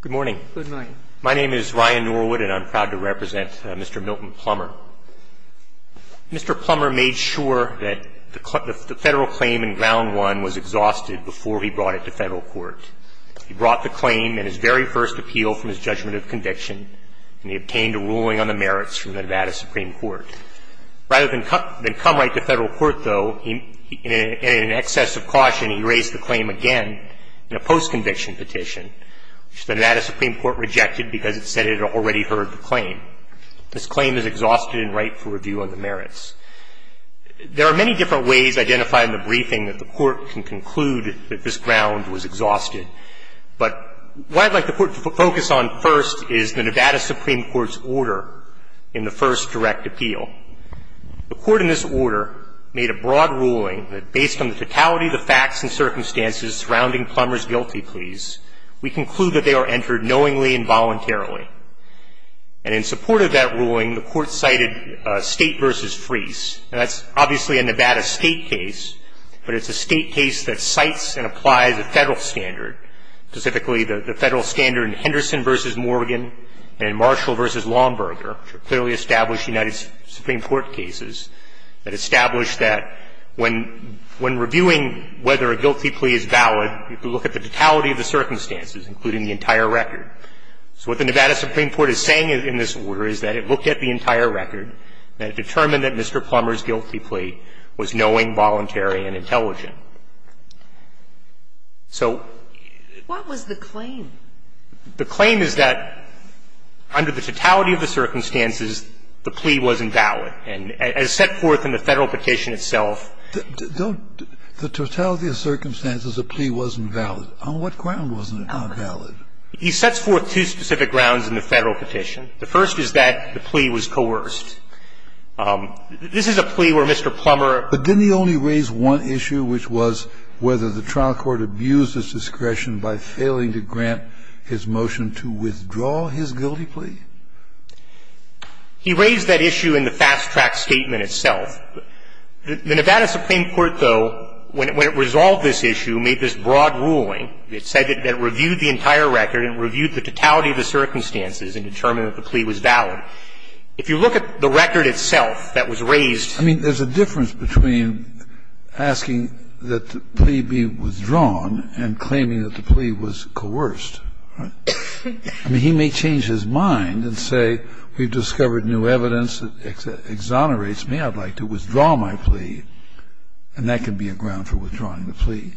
Good morning. My name is Ryan Norwood, and I'm proud to represent Mr. Milton Plummer. Mr. Plummer made sure that the federal claim in Ground 1 was exhausted before he brought it to federal court. He brought the claim in his very first appeal from his judgment of conviction, and he obtained a ruling on the merits from the Nevada Supreme Court. Rather than come right to federal court, though, in excess of caution, he raised the claim again in a post-conviction petition. The Nevada Supreme Court rejected because it said it had already heard the claim. This claim is exhausted and ripe for review on the merits. There are many different ways identified in the briefing that the court can conclude that this ground was exhausted. But what I'd like the court to focus on first is the Nevada Supreme Court's order in the first direct appeal. The court in this order made a broad ruling that based on the totality of the facts and circumstances surrounding Plummer's guilty pleas, we conclude that they are entered knowingly and voluntarily. And in support of that ruling, the court cited State v. Freese. Now, that's obviously a Nevada State case, but it's a State case that cites and applies a federal standard, specifically the federal standard in Henderson v. Morgan and in Marshall v. Longburger, which are clearly established United Supreme Court cases that establish that when reviewing whether a guilty plea is valid, you can look at the totality of the circumstances, including the entire record. So what the Nevada Supreme Court is saying in this order is that it looked at the entire record, and it determined that Mr. Plummer's guilty plea was knowing, voluntary, and intelligent. So the claim is that under the totality of the circumstances, the plea wasn't valid. On what ground wasn't it not valid? He sets forth two specific grounds in the Federal petition. The first is that the plea was coerced. This is a plea where Mr. Plummer ---- But didn't he only raise one issue, which was whether the trial court abused his discretion by failing to grant his motion to withdraw his guilty plea? He raised that issue in the fast-track statement itself. The Nevada Supreme Court, though, when it resolved this issue, made this broad ruling. It said that it reviewed the entire record and reviewed the totality of the circumstances and determined that the plea was valid. If you look at the record itself that was raised ---- I mean, there's a difference between asking that the plea be withdrawn and claiming that the plea was coerced. I mean, he may change his mind and say, we've discovered new evidence that exonerates me, I'd like to withdraw my plea, and that can be a ground for withdrawing the plea.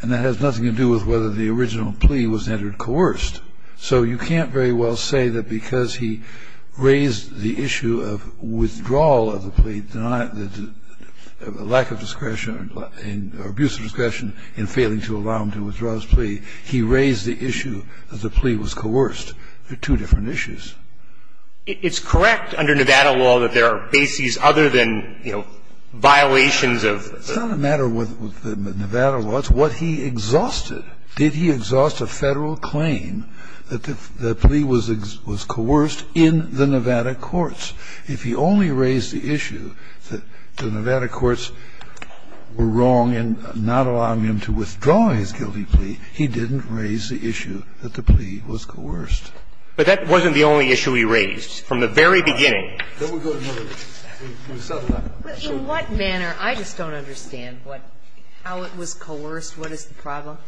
And that has nothing to do with whether the original plea was entered coerced. So you can't very well say that because he raised the issue of withdrawal of the plea, the lack of discretion or abuse of discretion in failing to allow him to withdraw his plea, he raised the issue that the plea was coerced. They're two different issues. It's correct under Nevada law that there are bases other than, you know, violations of the ---- It's not a matter of what the Nevada law is. It's what he exhausted. Did he exhaust a Federal claim that the plea was coerced in the Nevada courts? If he only raised the issue that the Nevada courts were wrong in not allowing him to withdraw his guilty plea, he didn't raise the issue that the plea was coerced. But that wasn't the only issue he raised. From the very beginning. But in what manner? I just don't understand how it was coerced. What is the problem?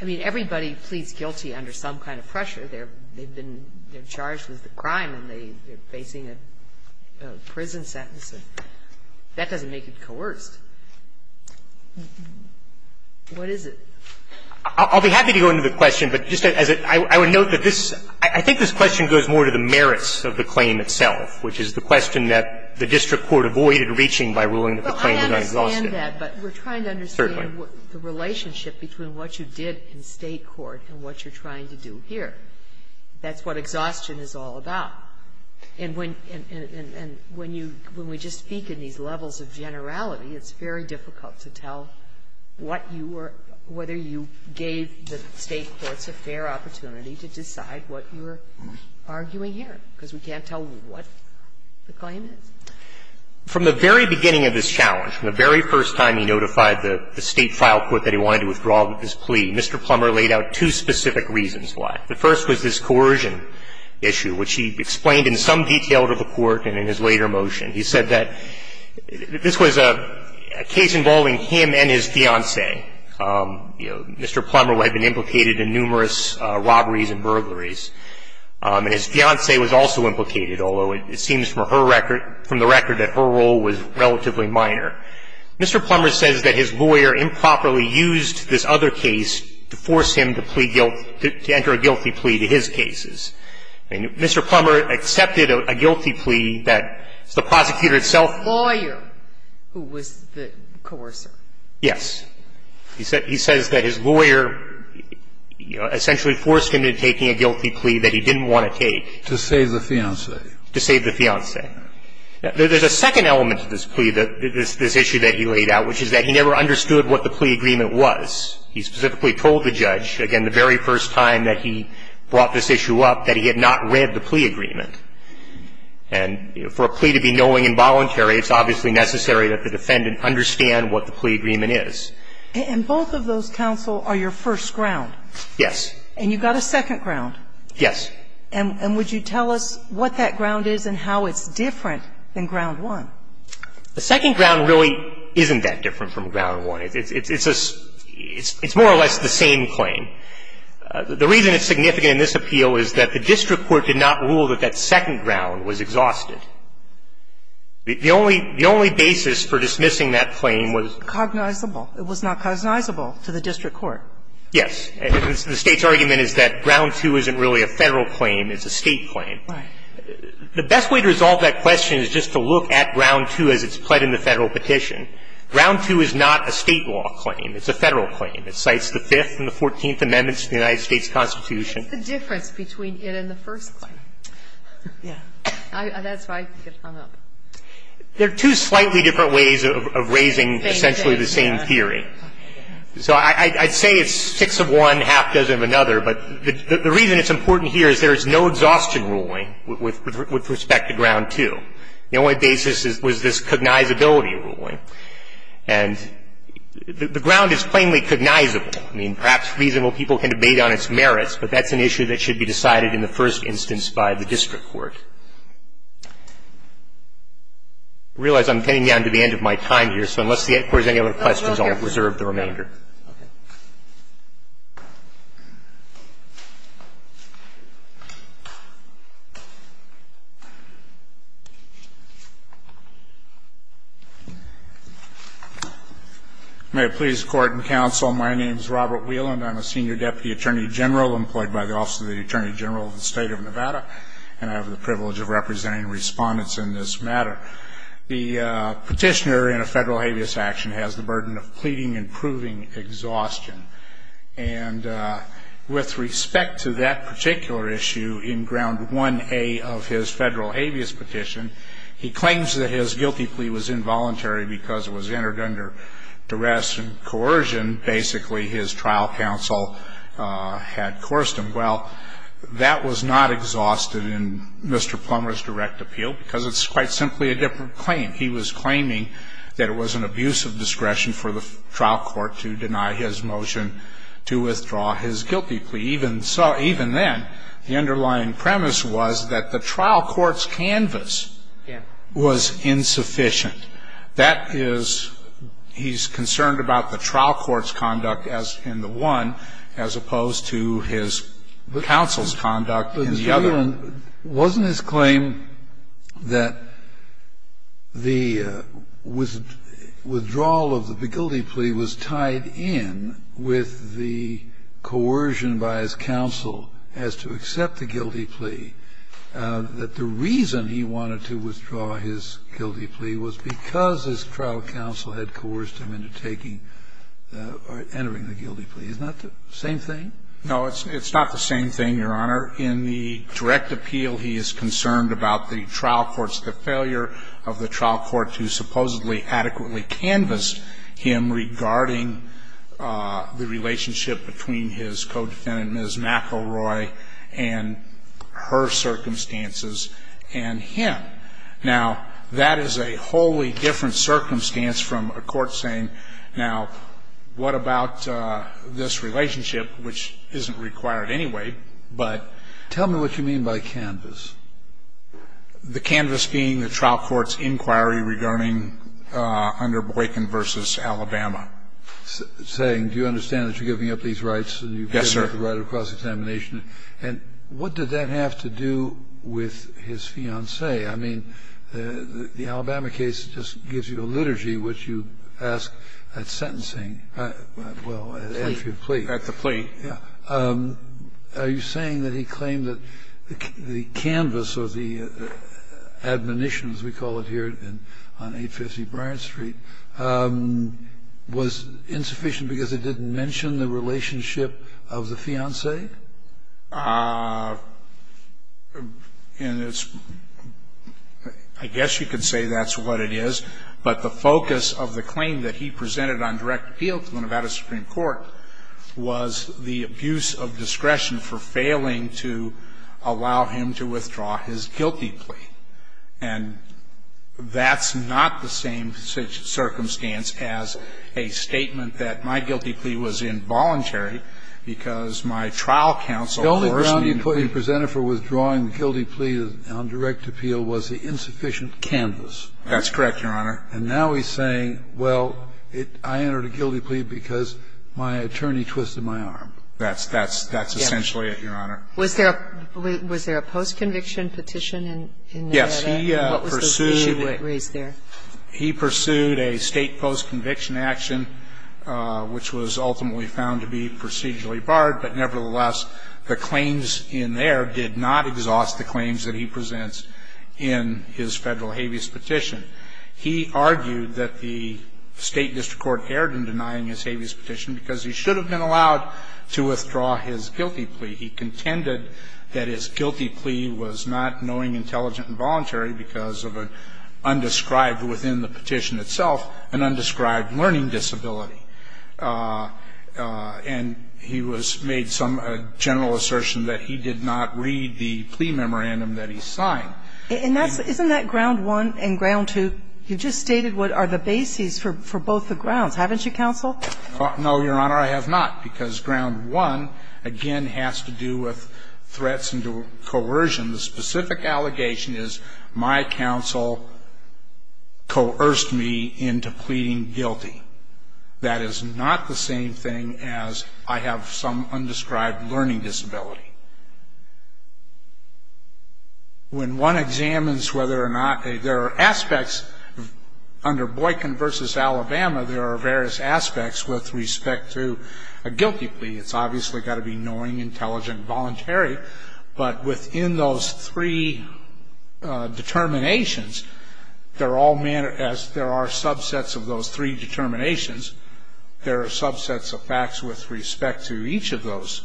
I mean, everybody pleads guilty under some kind of pressure. They've been charged with a crime and they're facing a prison sentence. That doesn't make it coerced. What is it? I'll be happy to go into the question, but just as a ---- I would note that this ---- I think this question goes more to the merits of the claim itself, which is the question that the district court avoided reaching by ruling that the claim was unexhausted. But I understand that, but we're trying to understand the relationship between what you did in State court and what you're trying to do here. That's what exhaustion is all about. And when you ---- when we just speak in these levels of generality, it's very difficult to tell what you were ---- whether you gave the State courts a fair opportunity to decide what you were arguing here, because we can't tell what the claim is. From the very beginning of this challenge, from the very first time he notified the State file court that he wanted to withdraw this plea, Mr. Plummer laid out two specific reasons why. The first was this coercion issue, which he explained in some detail to the court and in his later motion. He said that this was a case involving him and his fiancée. You know, Mr. Plummer had been implicated in numerous robberies and burglaries. And his fiancée was also implicated, although it seems from her record ---- from the record that her role was relatively minor. Mr. Plummer says that his lawyer improperly used this other case to force him to plea ---- to enter a guilty plea to his cases. And Mr. Plummer accepted a guilty plea that the prosecutor itself ---- The lawyer who was the coercer. Yes. He says that his lawyer essentially forced him into taking a guilty plea that he didn't want to take. To save the fiancée. To save the fiancée. There's a second element to this plea, this issue that he laid out, which is that he never understood what the plea agreement was. He specifically told the judge, again, the very first time that he brought this issue up, that he had not read the plea agreement. And for a plea to be knowing and voluntary, it's obviously necessary that the defendant understand what the plea agreement is. And both of those counsel are your first ground. Yes. And you've got a second ground. Yes. And would you tell us what that ground is and how it's different than ground The second ground really isn't that different from ground one. It's more or less the same claim. The reason it's significant in this appeal is that the district court did not rule that that second ground was exhausted. The only basis for dismissing that claim was ---- Cognizable. It was not cognizable to the district court. Yes. The State's argument is that ground two isn't really a Federal claim. It's a State claim. Right. The best way to resolve that question is just to look at ground two as it's pled in the Federal petition. Ground two is not a State law claim. It's a Federal claim. It cites the Fifth and the Fourteenth Amendments to the United States Constitution. What's the difference between it and the first claim? Yeah. That's where I get hung up. They're two slightly different ways of raising essentially the same theory. So I'd say it's six of one, half dozen of another. But the reason it's important here is there is no exhaustion ruling with respect to ground two. The only basis was this cognizability ruling. And the ground is plainly cognizable. I mean, perhaps reasonable people can debate on its merits, but that's an issue that should be decided in the first instance by the district court. I realize I'm getting down to the end of my time here, so unless the Court has any other questions, I'll reserve the remainder. Okay. Thank you. May it please the Court and Counsel, my name is Robert Wieland. I'm a Senior Deputy Attorney General employed by the Office of the Attorney General of the State of Nevada, and I have the privilege of representing respondents in this matter. The petitioner in a Federal habeas action has the burden of pleading and proving exhaustion. And with respect to that particular issue in ground 1A of his Federal habeas petition, he claims that his guilty plea was involuntary because it was entered under duress and coercion. Basically, his trial counsel had coerced him. Well, that was not exhausted in Mr. Plummer's direct appeal because it's quite simply a different claim. He was claiming that it was an abuse of discretion for the trial court to deny his motion to withdraw his guilty plea. Even then, the underlying premise was that the trial court's canvas was insufficient. That is, he's concerned about the trial court's conduct in the one as opposed to his counsel's conduct in the other. Scalia, wasn't his claim that the withdrawal of the guilty plea was tied in with the coercion by his counsel as to accept the guilty plea, that the reason he wanted to withdraw his guilty plea was because his trial counsel had coerced him into taking or entering the guilty plea? Isn't that the same thing? No, it's not the same thing, Your Honor. In the direct appeal, he is concerned about the trial court's, the failure of the trial court to supposedly adequately canvas him regarding the relationship between his co-defendant, Ms. McElroy, and her circumstances and him. Now, that is a wholly different circumstance from a court saying, now, what about this relationship, which isn't required anyway, but. Tell me what you mean by canvas. The canvas being the trial court's inquiry regarding under Boykin v. Alabama. Saying, do you understand that you're giving up these rights? Yes, sir. And you've given up the right of cross-examination. And what did that have to do with his fiancée? I mean, the Alabama case just gives you a liturgy which you ask at sentencing well, at entry of plea. At the plea. Yeah. Are you saying that he claimed that the canvas or the admonition, as we call it here on 850 Bryant Street, was insufficient because it didn't mention the relationship of the fiancée? And it's, I guess you could say that's what it is. But the focus of the claim that he presented on direct appeal to the Nevada Supreme Court was the abuse of discretion for failing to allow him to withdraw his guilty plea. And that's not the same circumstance as a statement that my guilty plea was involuntary because my trial counsel worsened. The only ground you presented for withdrawing the guilty plea on direct appeal was the insufficient canvas. That's correct, Your Honor. And now he's saying, well, I entered a guilty plea because my attorney twisted my arm. That's essentially it, Your Honor. Was there a post-conviction petition in Nevada? Yes. And what was the issue raised there? He pursued a state post-conviction action which was ultimately found to be procedurally barred, but nevertheless, the claims in there did not exhaust the claims that he presents in his federal habeas petition. He argued that the state district court erred in denying his habeas petition because he should have been allowed to withdraw his guilty plea. He contended that his guilty plea was not knowing, intelligent, and voluntary because of an undescribed within the petition itself, an undescribed learning disability. And he was made some general assertion that he did not read the plea memorandum that he signed. Isn't that ground one and ground two? You just stated what are the bases for both the grounds. Haven't you, counsel? No, Your Honor, I have not, because ground one, again, has to do with threats and coercion. The specific allegation is my counsel coerced me into pleading guilty. That is not the same thing as I have some undescribed learning disability. When one examines whether or not there are aspects under Boykin v. Alabama, there are various aspects with respect to a guilty plea. It's obviously got to be knowing, intelligent, and voluntary. But within those three determinations, as there are subsets of those three determinations, there are subsets of facts with respect to each of those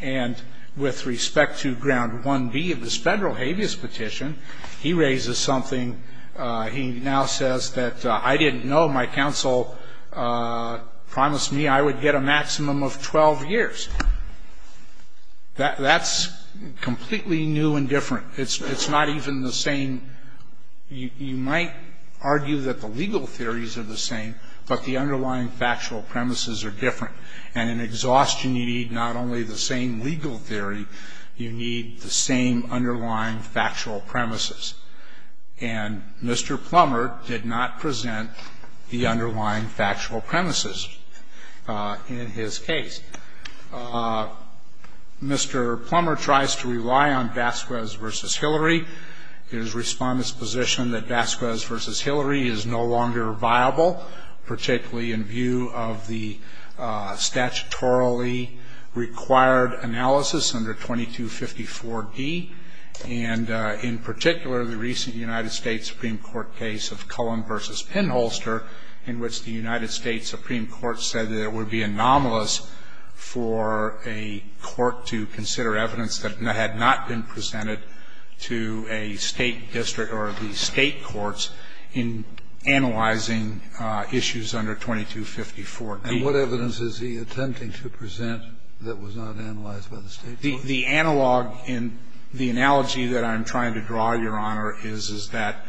And with respect to ground 1B of this federal habeas petition, he raises something. He now says that I didn't know my counsel promised me I would get a maximum of 12 years. That's completely new and different. It's not even the same. You might argue that the legal theories are the same, but the underlying factual premises are different. And in exhaustion, you need not only the same legal theory, you need the same underlying factual premises. And Mr. Plummer did not present the underlying factual premises in his case. Mr. Plummer tries to rely on Vasquez v. Hillary. His respondents position that Vasquez v. Hillary is no longer viable, particularly in view of the statutorily required analysis under 2254D, and in particular the recent United States Supreme Court case of Cullen v. Pinholster, in which the United States Supreme Court said that it would be anomalous for a court to consider evidence that had not been presented to a state district or the state And what evidence is he attempting to present that was not analyzed by the state court? The analog in the analogy that I'm trying to draw, Your Honor, is, is that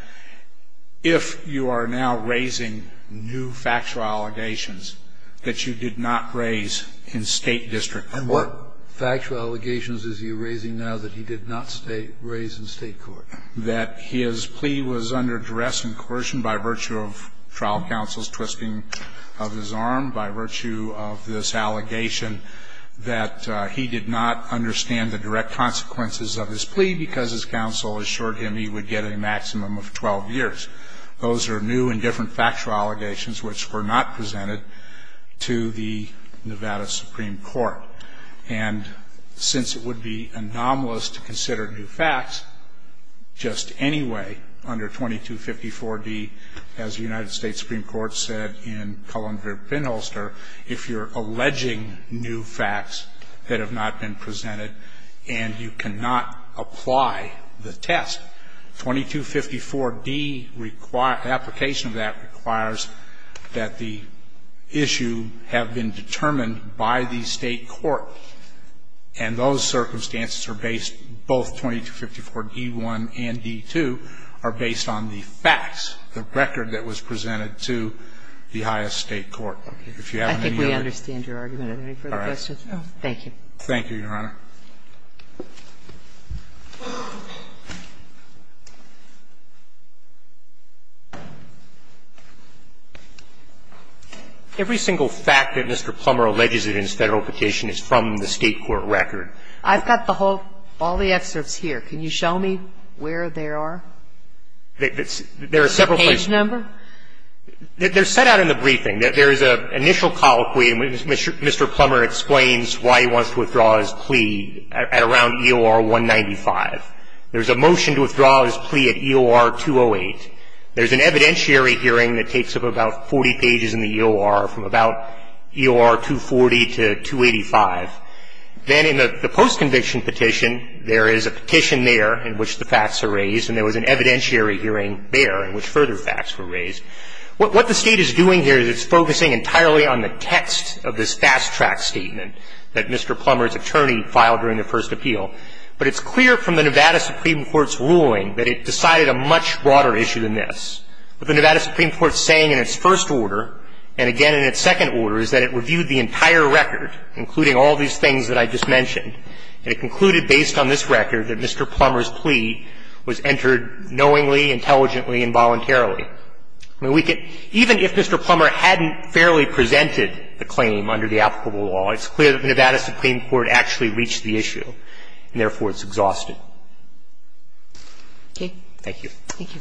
if you are now raising new factual allegations that you did not raise in state district court. And what factual allegations is he raising now that he did not raise in state court? That his plea was under duress and coercion by virtue of trial counsel's twisting of his arm, by virtue of this allegation that he did not understand the direct consequences of his plea because his counsel assured him he would get a maximum of 12 years. Those are new and different factual allegations which were not presented to the Nevada Supreme Court. And since it would be anomalous to consider new facts, just anyway, under 2254D, as the United States Supreme Court said in Cullen v. Pinholster, if you're alleging new facts that have not been presented and you cannot apply the test, 2254D requires, application of that requires that the issue have been determined by the state court. And those circumstances are based, both 2254D1 and 2254D2 are based on the facts of the record that was presented to the highest state court. If you have any other? I think we understand your argument. Any further questions? No. Thank you. Thank you, Your Honor. Every single fact that Mr. Plummer alleges in his Federal petition is from the state court record. I've got the whole, all the excerpts here. Can you show me where they are? There are several places. Page number? They're set out in the briefing. There is an initial colloquy. Mr. Plummer explains why he wants to withdraw his plea at around EOR 195. There's a motion to withdraw his plea at EOR 208. There's an evidentiary hearing that takes up about 40 pages in the EOR from about EOR 240 to 285. Then in the post-conviction petition, there is a petition there in which the facts are raised, and there was an evidentiary hearing there in which further facts were raised. What the State is doing here is it's focusing entirely on the text of this fast-track statement that Mr. Plummer's attorney filed during the first appeal. But it's clear from the Nevada Supreme Court's ruling that it decided a much broader issue than this. What the Nevada Supreme Court is saying in its first order, and again in its second order, is that it reviewed the entire record, including all these things that I just mentioned. And it concluded based on this record that Mr. Plummer's plea was entered knowingly, intelligently, and voluntarily. I mean, we can – even if Mr. Plummer hadn't fairly presented the claim under the applicable law, it's clear that the Nevada Supreme Court actually reached the issue, and therefore it's exhausted. Thank you. Thank you.